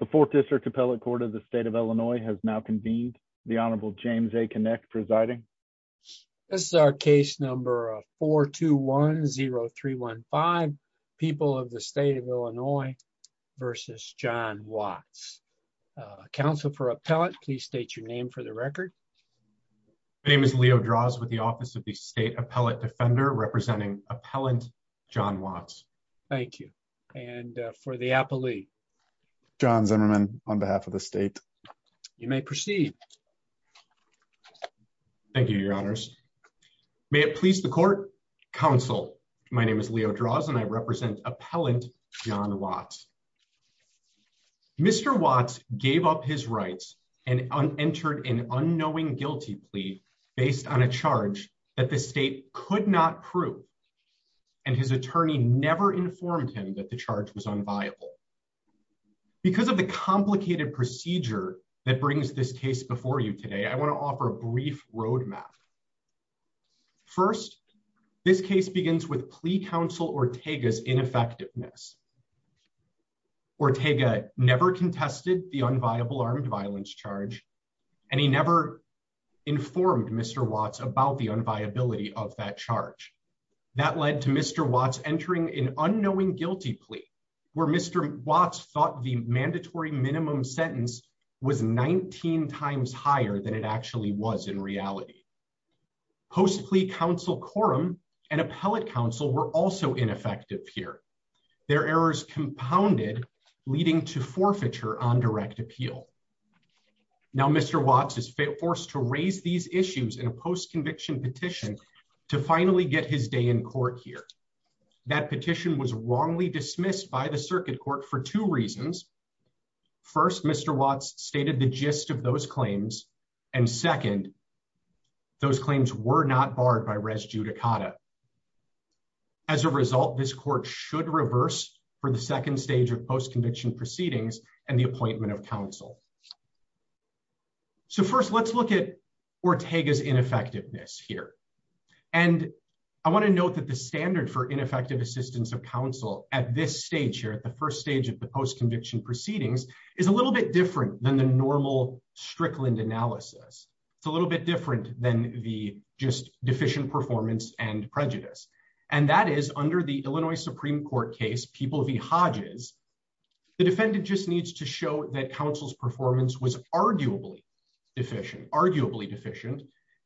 The fourth district appellate court of the state of Illinois has now convened. The Honorable James A. Kinect presiding. This is our case number 421-0315, People of the State of Illinois v. John Watts. Counsel for appellate, please state your name for the record. My name is Leo Draws with the Office of the State Appellate Defender, representing Appellant John Watts. Thank you. And for the appellee. John Zimmerman on behalf of the state. You may proceed. Thank you, Your Honors. May it please the court. Counsel, my name is Leo Draws and I represent Appellant John Watts. Mr. Watts gave up his rights and entered an unknowing guilty plea based on a charge that the state could not prove. And his attorney never informed him that the charge was unviable. Because of the complicated procedure that brings this case before you today, I want to offer a brief roadmap. First, this case begins with plea counsel Ortega's ineffectiveness. Ortega never contested the unviable armed violence charge, and he never informed Mr. Watts about the unviability of that charge. That led to Mr. Watts entering an unknowing guilty plea where Mr. Watts thought the mandatory minimum sentence was 19 times higher than it actually was in reality. Post plea counsel quorum and appellate counsel were also ineffective here. Their errors compounded, leading to forfeiture on direct appeal. Now, Mr. Watts is forced to raise these issues in a post conviction petition to finally get his day in court here. That petition was wrongly dismissed by the circuit court for two reasons. First, Mr. Watts stated the gist of those claims, and second, those claims were not barred by res judicata. As a result, this court should reverse for the second stage of post conviction proceedings and the appointment of counsel. So first, let's look at Ortega's ineffectiveness here. And I want to note that the standard for ineffective assistance of counsel at this stage here, at the first stage of the post conviction proceedings, is a little bit different than the normal Strickland analysis. It's a little bit different than the just deficient performance and prejudice. And that is under the Illinois Supreme Court case, People v. Hodges, the defendant just needs to show that counsel's performance was arguably deficient, arguably deficient,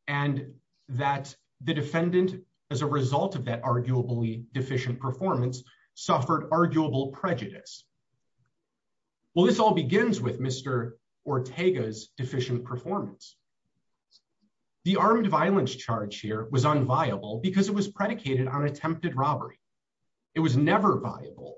and that the defendant, as a result of that arguably deficient performance, suffered arguable prejudice. Well, this all begins with Mr. Ortega's deficient performance. The armed violence charge here was unviable because it was predicated on attempted robbery. It was never viable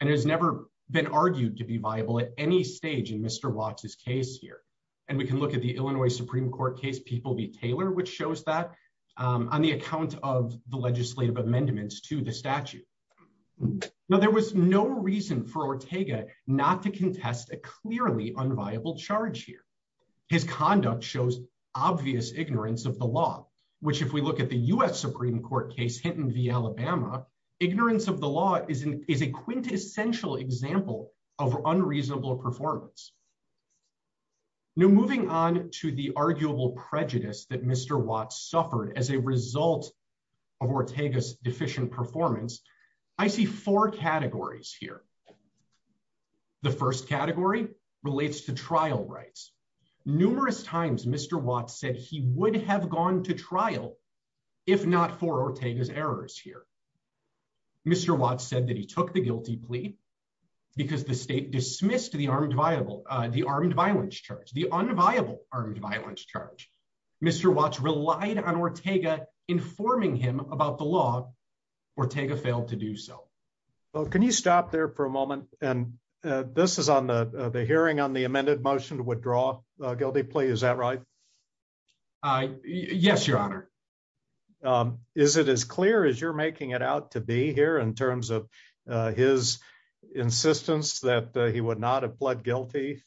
and has never been argued to be viable at any stage in Mr. Watts's case here. And we can look at the Illinois Supreme Court case, People v. Taylor, which shows that on the account of the legislative amendments to the statute. Now, there was no reason for Ortega not to contest a clearly unviable charge here. His conduct shows obvious ignorance of the law, which if we look at the U.S. Supreme Court case, Hinton v. Alabama, ignorance of the law is a quintessential example of unreasonable performance. Now, moving on to the arguable prejudice that Mr. Watts suffered as a result of Ortega's deficient performance, I see four categories here. The first category relates to trial rights. Numerous times, Mr. Watts said he would have gone to trial if not for Ortega's errors here. Mr. Watts said that he took the guilty plea because the state dismissed the armed violence charge. The unviable armed violence charge. Mr. Watts relied on Ortega informing him about the law. Ortega failed to do so. Can you stop there for a moment? And this is on the hearing on the amended motion to withdraw guilty plea. Is that right? Yes, your honor. Is it as clear as you're making it out to be here in terms of his insistence that he would not have pled guilty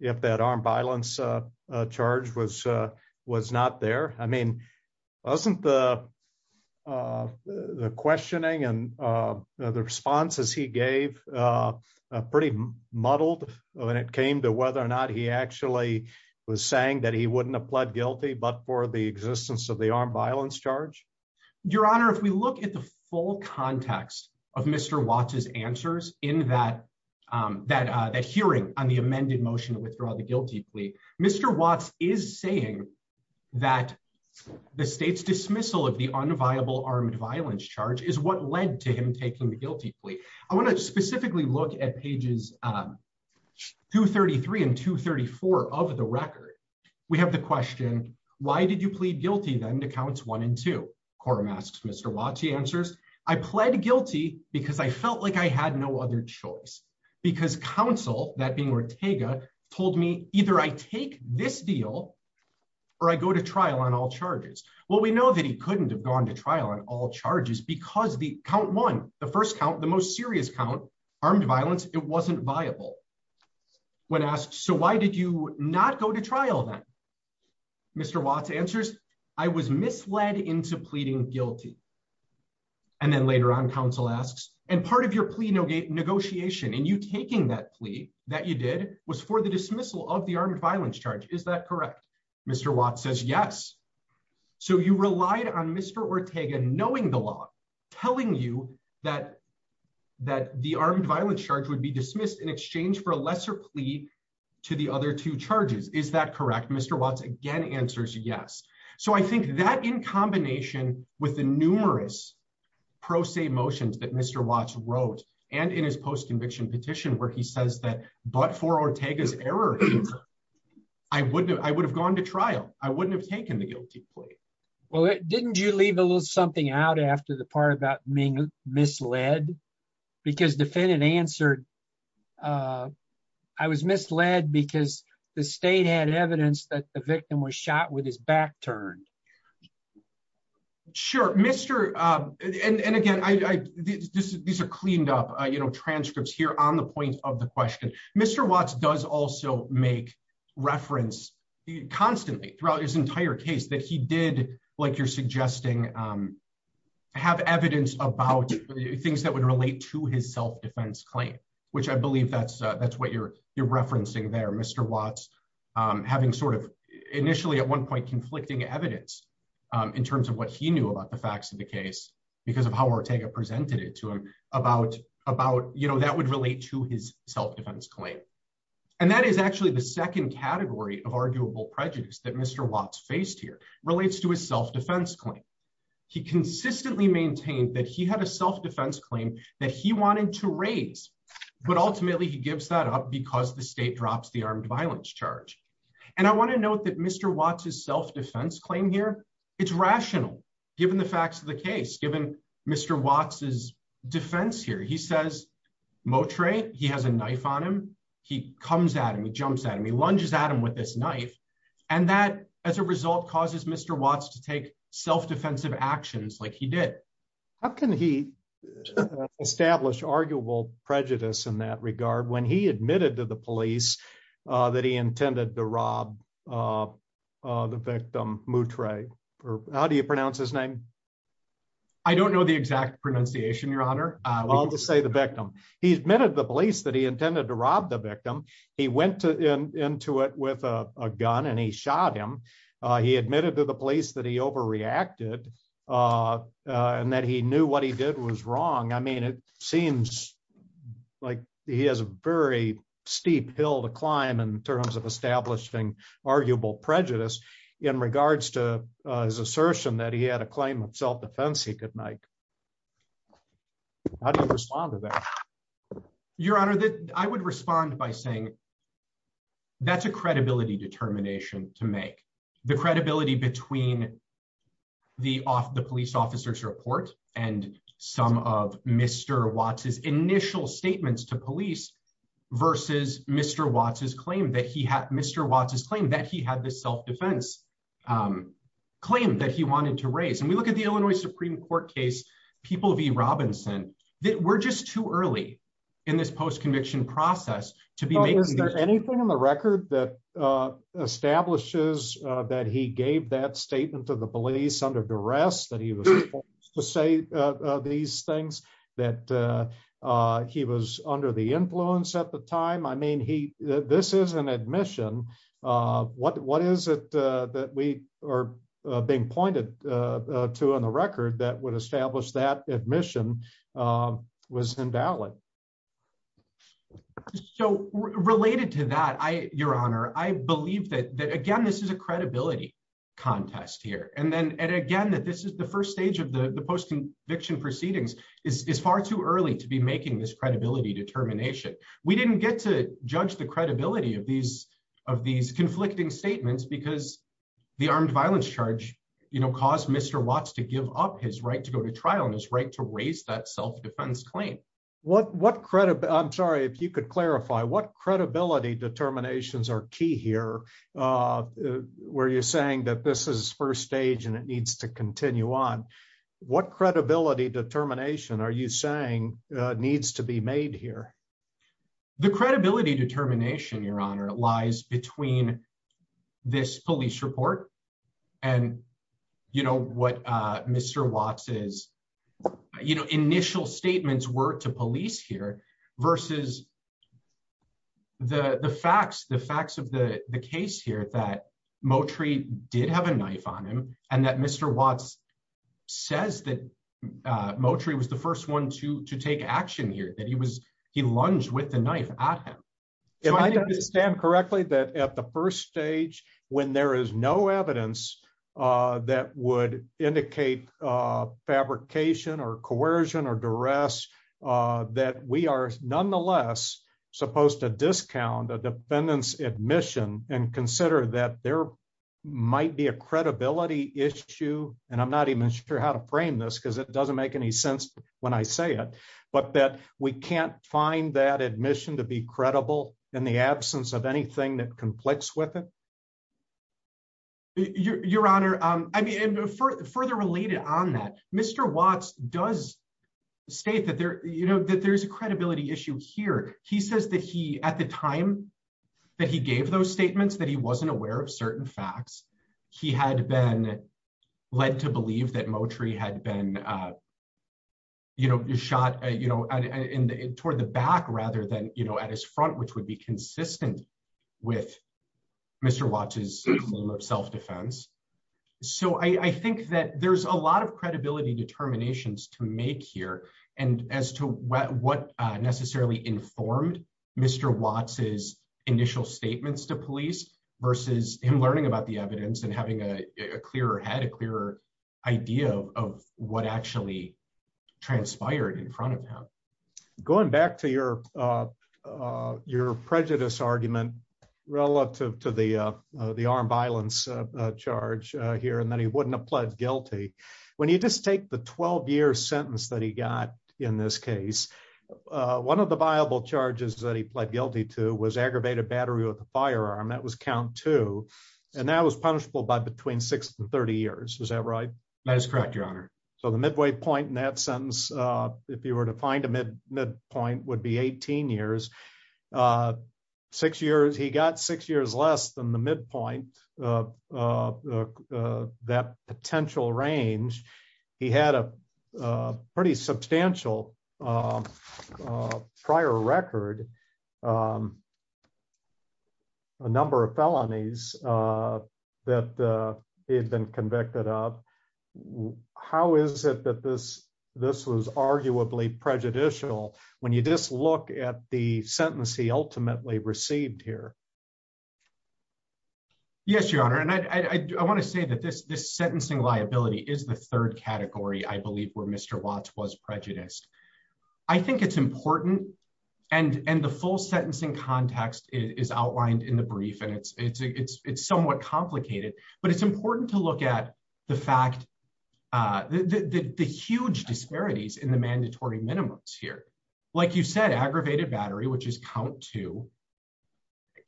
if that armed violence charge was was not there? I mean, wasn't the the questioning and the responses he gave pretty muddled when it came to whether or not he actually was saying that he wouldn't have pled guilty, but for the existence of the armed violence charge? Your honor, if we look at the full context of Mr. Watts's answers in that that that hearing on the amended motion to withdraw the guilty plea, Mr. Watts is saying that the state's dismissal of the unviable armed violence charge is what led to him taking the guilty plea. I want to specifically look at pages 233 and 234 of the record. We have the question, why did you plead guilty then to counts one and two? Quorum asks Mr. Watts, he answers, I pled guilty because I felt like I had no other choice because counsel, that being Ortega, told me either I take this deal or I go to trial on all charges. Well, we know that he couldn't have gone to trial on all charges because the count one, the first count, the most serious count armed violence, it wasn't viable. When asked, so why did you not go to trial then? Mr. Watts answers, I was misled into pleading guilty. And then later on, counsel asks, and part of your plea negotiation and you taking that plea that you did was for the dismissal of the armed violence charge, is that correct? Mr. Watts says, yes. So you relied on Mr. Ortega knowing the law, telling you that the armed violence charge would be dismissed in exchange for a lesser plea to the other two charges, is that correct? Mr. Watts again answers, yes. So I think that in combination with the numerous pro se motions that Mr. Watts wrote and in his post-conviction petition where he says that, but for Ortega's error, I would have gone to trial. I wouldn't have taken the guilty plea. Well, didn't you leave a little something out after the part about being misled? Because defendant answered, I was misled because the state had evidence that the victim was shot with his back turned. Sure, and again, these are cleaned up transcripts here on the point of the question. Mr. Watts does also make reference constantly throughout his entire case that he did, like you're suggesting, have evidence about things that would relate to his self-defense claim, which I believe that's what you're referencing there, Mr. Watts having sort of initially at one point conflicting evidence in terms of what he knew about the facts of the case because of how Ortega presented it to him, that would relate to his self-defense claim. And that is actually the second category of arguable prejudice that Mr. Watts faced here, relates to his self-defense claim. He consistently maintained that he had a self-defense claim that he wanted to raise, but ultimately he gives that up because the state drops the armed violence charge. And I want to note that Mr. Watts' self-defense claim here, it's rational given the facts of the case, given Mr. Watts' defense here. He says, Moutre, he has a knife on him. He comes at him, he jumps at him, he lunges at him with this knife. And that as a result causes Mr. Watts to take self-defensive actions like he did. How can he establish arguable prejudice in that regard when he admitted to the police that he intended to rob the victim, Moutre? How do you pronounce his name? I don't know the exact pronunciation, your honor. I'll just say the victim. He admitted to the police that he intended to rob the victim. He went into it with a gun and he shot him. He admitted to the police that he overreacted and that he knew what he did was wrong. It seems like he has a very steep hill to climb in terms of establishing arguable prejudice in regards to his assertion that he had a claim of self-defense he could make. How do you respond to that? Your honor, I would respond by saying that's a credibility determination to make. The credibility between the police officer's report and some of Mr. Watts' initial statements to police versus Mr. Watts' claim that he had this self-defense claim that he wanted to raise. And we look at the Illinois Supreme Court case, People v. Robinson, that we're just too early in this post-conviction process to be making- Is there anything in the record that establishes that he gave that statement to the police under duress that he was forced to say these things, that he was under the influence at the time? I mean, this is an admission. What is it that we are being pointed to on the record that would establish that admission was invalid? So related to that, your honor, I believe that, again, this is a credibility contest here. And again, that this is the first stage of the post-conviction proceedings is far too early to be making this credibility determination. We didn't get to judge the credibility of these conflicting statements because the armed violence charge caused Mr. Watts to give up his right to go to trial and his right to raise that self-defense claim. I'm sorry, if you could clarify, what credibility determinations are key here where you're saying that this is first stage and it needs to continue on? What credibility determination are you saying needs to be made here? The credibility determination, your honor, lies between this police report and what Mr. Watts' initial statements were to police here versus the facts of the case here that Moultrie did have a knife on him and that Mr. Watts says that Moultrie was the first one to take action here, that he lunged with the knife at him. If I understand correctly, that at the first stage, when there is no evidence that would indicate fabrication or coercion or duress, that we are nonetheless supposed to discount a defendant's admission and consider that there might be a credibility issue, and I'm not even sure how to frame this because it doesn't make any sense when I say it, but that we can't find that admission to be credible in the absence of anything that conflicts with it? Your honor, further related on that, Mr. Watts does state that there's a credibility issue here. He says that he, at the time that he gave those statements, that he wasn't aware of certain facts. He had been led to believe that Moultrie had been shot toward the back rather than at his front, which would be consistent with Mr. Watts' claim of self-defense. So I think that there's a lot of credibility determinations to make here and as to what necessarily informed Mr. Watts' initial statements to police versus him learning about the evidence and having a clearer head, a clearer idea of what actually transpired in front of him. Going back to your prejudice argument relative to the armed violence charge here and that he wouldn't have pled guilty. When you just take the 12 year sentence that he got in this case, one of the viable charges that he pled guilty to was aggravated battery with a firearm. That was count two. And that was punishable by between six and 30 years. Is that right? That is correct, your honor. So the midway point in that sentence, if you were to find a mid point would be 18 years. A six years, he got six years less than the mid point that potential range. He had a pretty substantial prior record, a number of felonies that he had been convicted of. How is it that this was arguably prejudicial when you just look at the sentence he ultimately received here? Yes, your honor. And I want to say that this sentencing liability is the third category, I believe, where Mr. Watts was prejudiced. I think it's important. And the full sentencing context is outlined in the brief. And it's somewhat complicated, but it's important to look at the fact, the huge disparities in the mandatory minimums here. Like you said, aggravated battery, which is count two,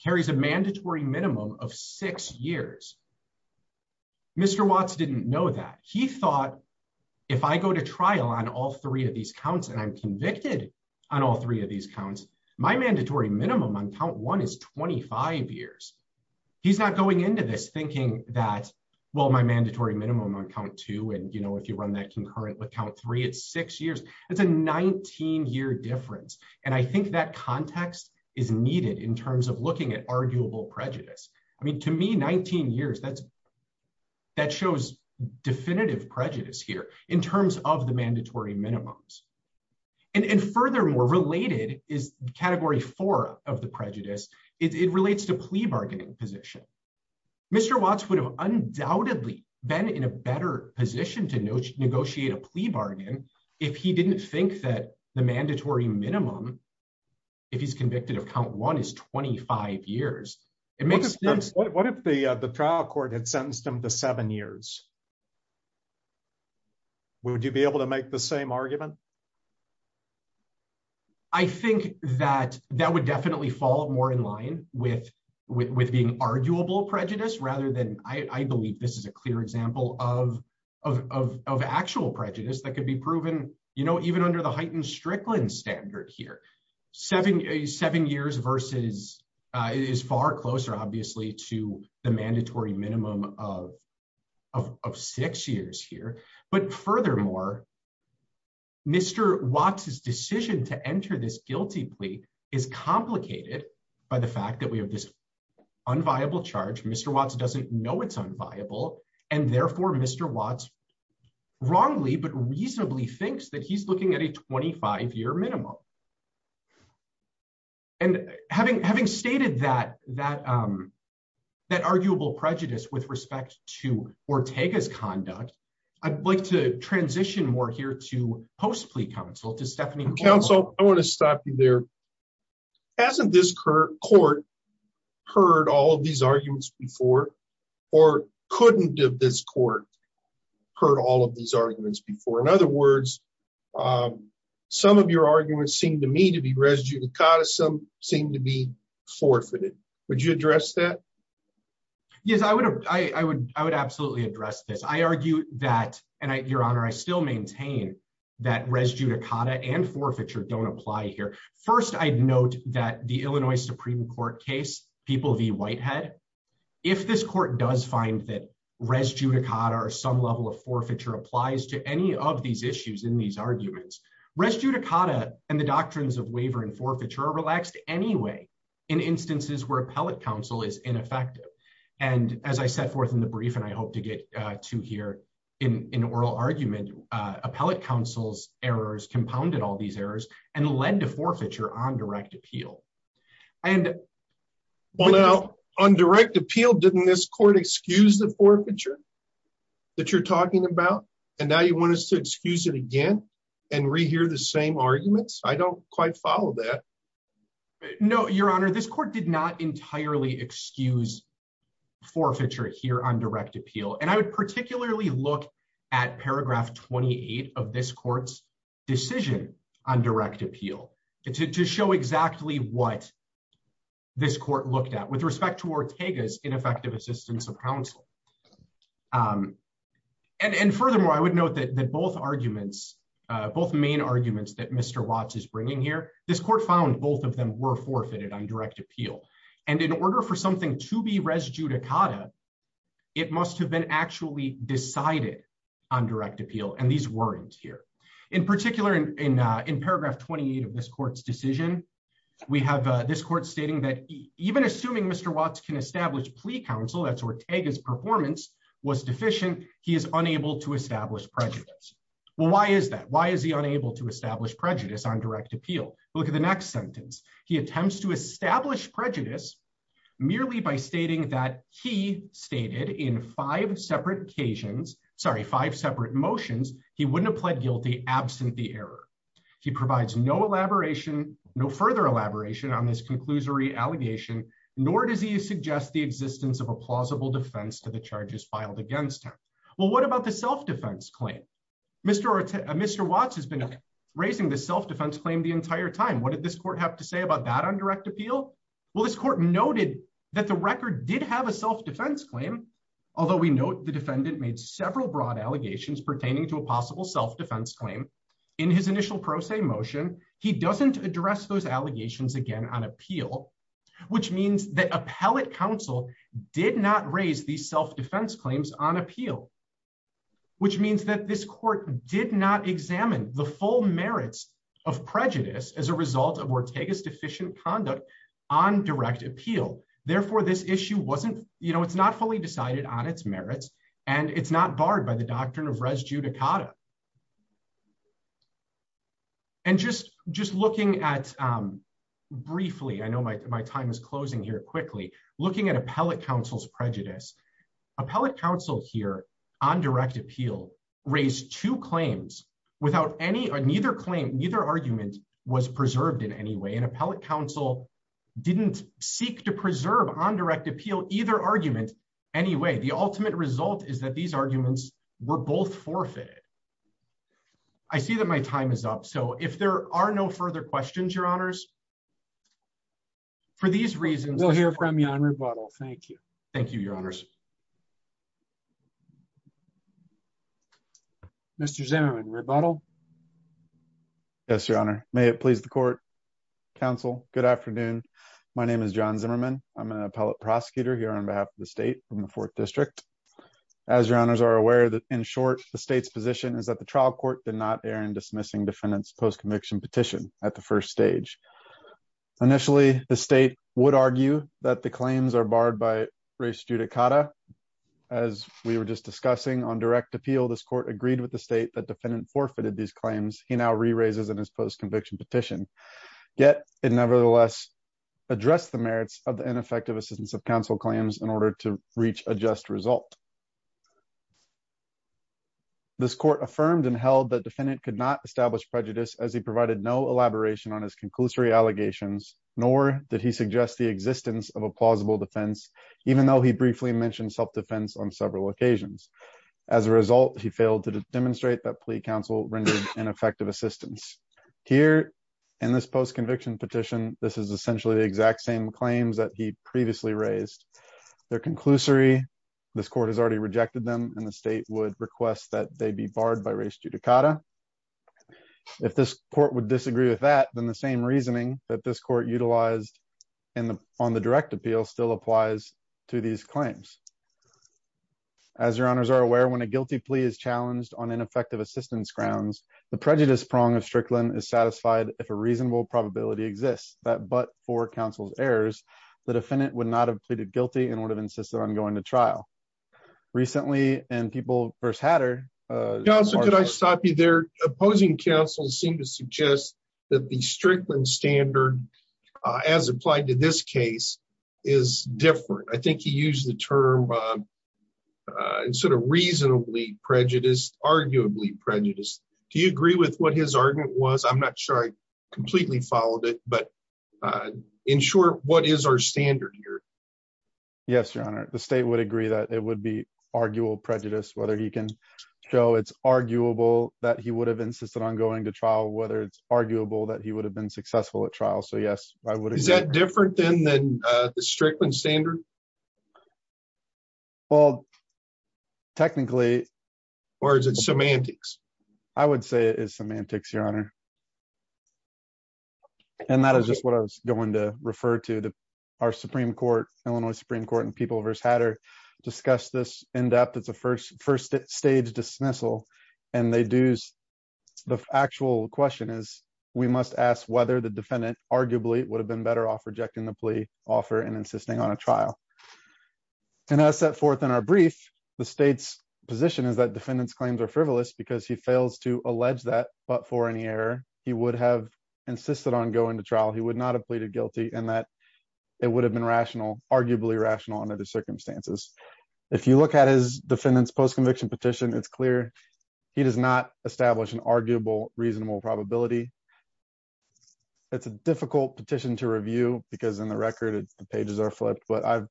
carries a mandatory minimum of six years. Mr. Watts didn't know that. He thought, if I go to trial on all three of these counts and I'm convicted on all three of these counts, my mandatory minimum on count one is 25 years. He's not going into this thinking that, well, my mandatory minimum on count two. And if you run that concurrent with count three, it's six years. That's a 19-year difference. And I think that context is needed in terms of looking at arguable prejudice. I mean, to me, 19 years, that shows definitive prejudice here in terms of the mandatory minimums. And furthermore, related is category four of the prejudice. It relates to plea bargaining position. Mr. Watts would have undoubtedly been in a better position to negotiate a plea bargain if he didn't think that the mandatory minimum, if he's convicted of count one, is 25 years. What if the trial court had sentenced him to seven years? Would you be able to make the same argument? I think that that would definitely fall more in line with being arguable prejudice rather than, I believe this is a clear example of actual prejudice that could be proven even under the heightened Strickland standard here. Seven years is far closer, obviously, to the mandatory minimum of six years here. But furthermore, Mr. Watts's decision to enter this guilty plea is complicated by the fact that we have this unviable charge. Mr. Watts doesn't know it's unviable. And therefore, Mr. Watts wrongly, but reasonably, thinks that he's looking at a 25-year minimum. And having stated that arguable prejudice with respect to Ortega's conduct, I'd like to transition more here to post-plea counsel, to Stephanie- Counsel, I wanna stop you there. Hasn't this court heard all of these arguments before or couldn't have this court heard all of these arguments before? In other words, some of your arguments seem to me to be res judicata, some seem to be forfeited. Would you address that? Yes, I would absolutely address this. I argue that, and Your Honor, I still maintain that res judicata and forfeiture don't apply here. First, I'd note that the Illinois Supreme Court case, People v. Whitehead, if this court does find that res judicata or some level of forfeiture applies to any of these issues in these arguments, res judicata and the doctrines of waiver and forfeiture are relaxed anyway, in instances where appellate counsel is ineffective. And as I set forth in the brief, and I hope to get to here in oral argument, appellate counsel's errors compounded all these errors and led to forfeiture on direct appeal. And- Well, now, on direct appeal, didn't this court excuse the forfeiture that you're talking about? And now you want us to excuse it again and rehear the same arguments? I don't quite follow that. No, Your Honor, this court did not entirely excuse forfeiture here on direct appeal. And I would particularly look at paragraph 28 of this court's decision on direct appeal to show exactly what this court looked at with respect to Ortega's ineffective assistance of counsel. And furthermore, I would note that both arguments, both main arguments that Mr. Watts is bringing here, this court found both of them were forfeited on direct appeal. And in order for something to be res judicata, it must have been actually decided on direct appeal. And these weren't here. In particular, in paragraph 28 of this court's decision, we have this court stating that even assuming Mr. Watts can establish plea counsel, that's Ortega's performance, was deficient, he is unable to establish prejudice. Well, why is that? Why is he unable to establish prejudice on direct appeal? Look at the next sentence. He attempts to establish prejudice merely by stating that he stated in five separate occasions, sorry, five separate motions, he wouldn't have pled guilty absent the error. He provides no elaboration, no further elaboration on this conclusory allegation, nor does he suggest the existence of a plausible defense to the charges filed against him. Well, what about the self-defense claim? Mr. Watts has been raising the self-defense claim the entire time. What did this court have to say about that on direct appeal? Well, this court noted that the record did have a self-defense claim, although we note the defendant made several broad allegations pertaining to a possible self-defense claim. In his initial pro se motion, he doesn't address those allegations again on appeal, which means that appellate counsel did not raise these self-defense claims on appeal, which means that this court did not examine the full merits of prejudice as a result of Ortega's deficient conduct on direct appeal. Therefore, this issue wasn't, it's not fully decided on its merits and it's not barred by the doctrine of res judicata. And just looking at briefly, I know my time is closing here quickly, looking at appellate counsel's prejudice. Appellate counsel here on direct appeal raised two claims without any or neither claim, neither argument was preserved in any way and appellate counsel didn't seek to preserve on direct appeal either argument anyway. The ultimate result is that these arguments were both forfeited. I see that my time is up. So if there are no further questions, your honors, for these reasons- We'll hear from you on rebuttal. Thank you. Thank you, your honors. Mr. Zimmerman, rebuttal. Yes, your honor. May it please the court. Counsel, good afternoon. My name is John Zimmerman. I'm an appellate prosecutor here on behalf of the state from the fourth district. As your honors are aware that in short, the state's position is that the trial court did not err in dismissing defendant's post-conviction petition at the first stage. Initially, the state would argue that the claims are barred by res judicata. As we were just discussing on direct appeal, this court agreed with the state that defendant forfeited these claims. He now re-raises in his post-conviction petition. Yet it nevertheless addressed the merits of the ineffective assistance of counsel claims in order to reach a just result. This court affirmed and held that defendant could not establish prejudice as he provided no elaboration on his conclusory allegations, nor did he suggest the existence of a plausible defense, even though he briefly mentioned self-defense on several occasions. As a result, he failed to demonstrate that plea counsel rendered ineffective assistance. Here in this post-conviction petition, this is essentially the exact same claims that he previously raised. Their conclusory, this court has already rejected them, and the state would request that they be barred by res judicata. If this court would disagree with that, then the same reasoning that this court utilized on the direct appeal still applies to these claims. As your honors are aware, when a guilty plea is challenged on ineffective assistance grounds, the prejudice prong of Strickland is satisfied if a reasonable probability exists that but for counsel's errors, the defendant would not have pleaded guilty and would have insisted on going to trial. Recently, and people first had her. Counsel, could I stop you there? Opposing counsels seem to suggest that the Strickland standard, as applied to this case, is different. I think he used the term sort of reasonably prejudiced, arguably prejudiced. Do you agree with what his argument was? I'm not sure I completely followed it, but in short, what is our standard here? Yes, your honor, the state would agree that it would be arguable prejudice, whether he can show it's arguable that he would have insisted on going to trial, whether it's arguable that he would have been successful at trial. So yes, I would. Is that different than the Strickland standard? Well, technically. Or is it semantics? I would say it is semantics, your honor. And that is just what I was going to refer to. Our Supreme Court, Illinois Supreme Court and People v. Hatter discussed this in depth. It's a first stage dismissal. And the actual question is, we must ask whether the defendant arguably would have been better off rejecting the plea offer and insisting on a trial. And as set forth in our brief, the state's position is that defendant's claims are frivolous because he fails to allege that, but for any error, he would have insisted on going to trial. He would not have pleaded guilty and that it would have been rational, arguably rational under the circumstances. If you look at his defendant's post-conviction petition, it's clear he does not establish an arguable reasonable probability. It's a difficult petition to review because in the record, the pages are flipped, but I've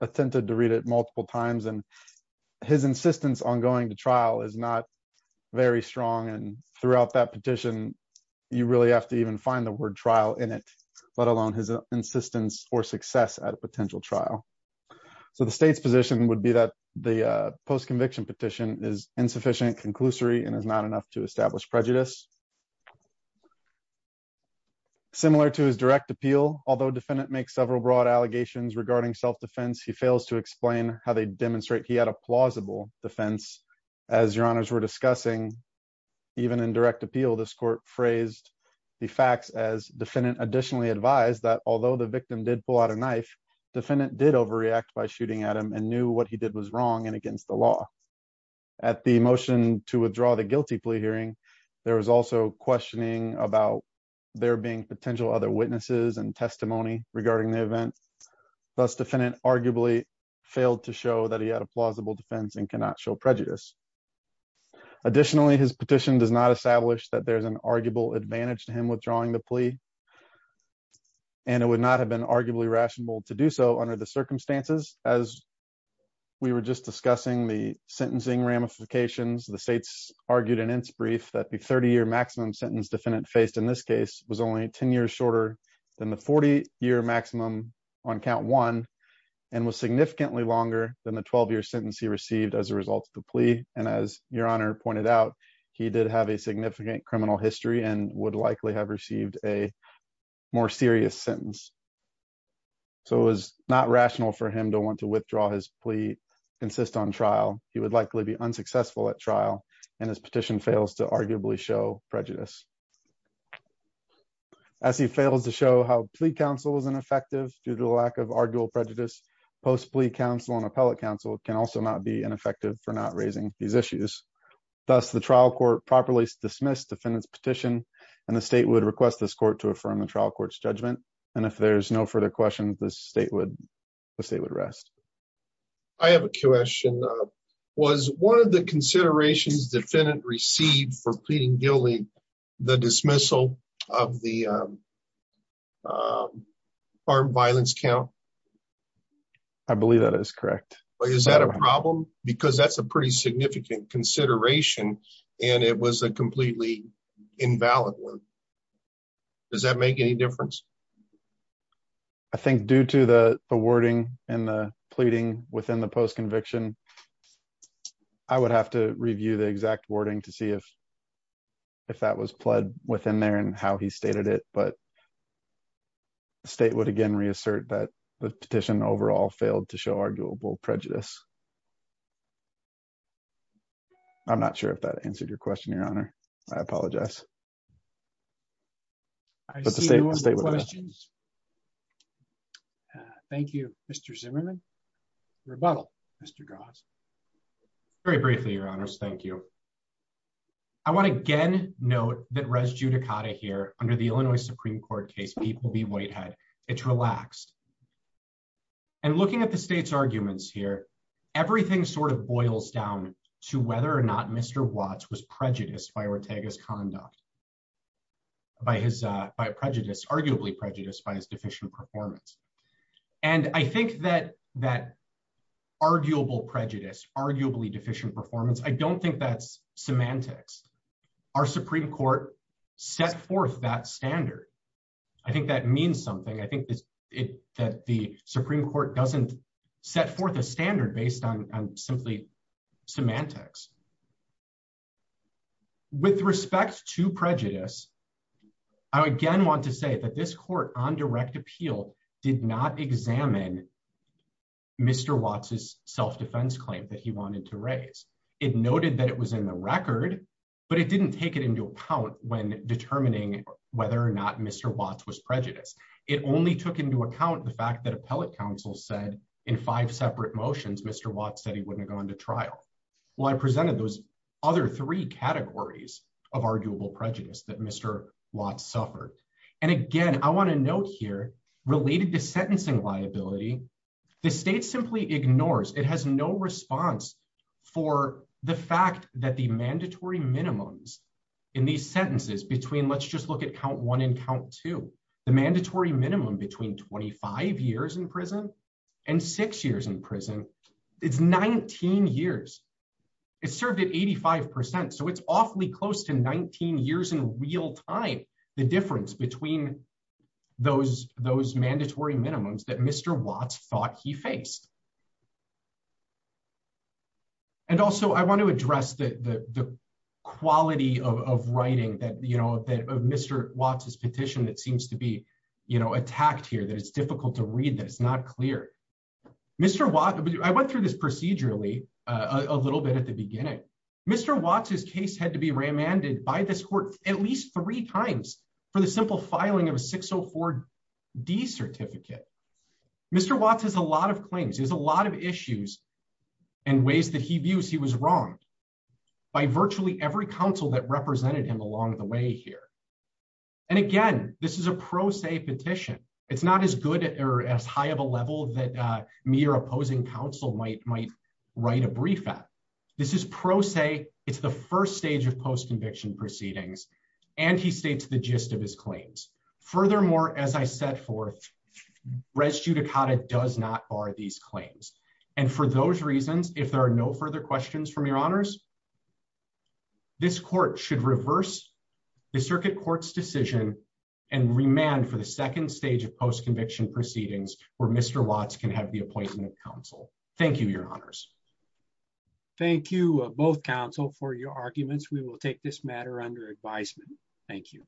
attempted to read it multiple times and his insistence on going to trial is not very strong. And throughout that petition, you really have to even find the word trial in it, let alone his insistence or success at a potential trial. So the state's position would be that the post-conviction petition is insufficient, conclusory, and is not enough to establish prejudice. Similar to his direct appeal, although defendant makes several broad allegations regarding self-defense, he fails to explain how they demonstrate he had a plausible defense. As your honors were discussing, even in direct appeal, this court phrased the facts as defendant additionally advised that although the victim did pull out a knife, defendant did overreact by shooting at him and knew what he did was wrong and against the law. At the motion to withdraw the guilty plea hearing, there was also questioning about there being potential other witnesses and testimony regarding the event. Thus, defendant arguably failed to show that he had a plausible defense and cannot show prejudice. Additionally, his petition does not establish that there's an arguable advantage to him withdrawing the plea and it would not have been arguably rational to do so under the circumstances. As we were just discussing the sentencing ramifications, the states argued in its brief that the 30-year maximum sentence defendant faced in this case was only 10 years shorter than the 40-year maximum on count one and was significantly longer than the 12-year sentence he received as a result of the plea. And as your honor pointed out, he did have a significant criminal history and would likely have received a more serious sentence. So it was not rational for him to want to withdraw his plea, insist on trial. He would likely be unsuccessful at trial and his petition fails to arguably show prejudice. As he fails to show how plea counsel is ineffective due to the lack of arguable prejudice, post plea counsel and appellate counsel can also not be ineffective for not raising these issues. Thus, the trial court properly dismissed defendant's petition and the state would request this court to affirm the trial court's judgment. And if there's no further questions, the state would rest. I have a question. Was one of the considerations defendant received for pleading guilty the dismissal of the armed violence count? I believe that is correct. Is that a problem? Because that's a pretty significant consideration and it was a completely invalid one. Does that make any difference? I think due to the wording and the pleading within the post conviction, I would have to review the exact wording to see if that was pled within there and how he stated it. But the state would again reassert that the petition overall failed to show arguable prejudice. I'm not sure if that answered your question, Your Honor. I apologize. I see no more questions. But the state will stay with us. Thank you, Mr. Zimmerman. Rebuttal, Mr. Goss. Very briefly, Your Honors. Thank you. I want to again note that res judicata here under the Illinois Supreme Court case people be whitehead. It's relaxed. And looking at the state's arguments here, everything sort of boils down to whether or not Mr. Watts was prejudiced by Ortega's conduct, by his prejudice, arguably prejudiced by his deficient performance. And I think that that arguable prejudice, arguably deficient performance, I don't think that's semantics. Our Supreme Court set forth that standard. I think that means something. I think that the Supreme Court doesn't set forth a standard based on simply semantics. With respect to prejudice, I again want to say that this court on direct appeal did not examine Mr. Watts' self-defense claim that he wanted to raise. It noted that it was in the record, but it didn't take it into account when determining whether or not Mr. Watts was prejudiced. It only took into account the fact that appellate counsel said in five separate motions, Mr. Watts said he wouldn't have gone to trial. Well, I presented those other three categories of arguable prejudice that Mr. Watts suffered. And again, I want to note here, related to sentencing liability, the state simply ignores, it has no response for the fact that the mandatory minimums in these sentences between let's just look at count one and count two, the mandatory minimum between 25 years in prison and six years in prison, it's 19 years. It's served at 85%. So it's awfully close to 19 years in real time, the difference between those mandatory minimums that Mr. Watts thought he faced. And also I want to address the quality of writing of Mr. Watts' petition that seems to be attacked here, that it's difficult to read, that it's not clear. I went through this procedurally a little bit at the beginning. Mr. Watts' case had to be remanded by this court at least three times for the simple filing of a 604D certificate. Mr. Watts has a lot of claims. There's a lot of issues and ways that he views he was wronged by virtually every counsel that represented him along the way here. And again, this is a pro se petition. It's not as good or as high of a level that me or opposing counsel might write a brief at. This is pro se. It's the first stage of post-conviction proceedings. And he states the gist of his claims. Furthermore, as I set forth, res judicata does not bar these claims. And for those reasons, if there are no further questions from your honors, this court should reverse the circuit court's decision and remand for the second stage of post-conviction proceedings where Mr. Watts can have the appointment of counsel. Thank you, your honors. Thank you both counsel for your arguments. We will take this matter under advisement. Thank you.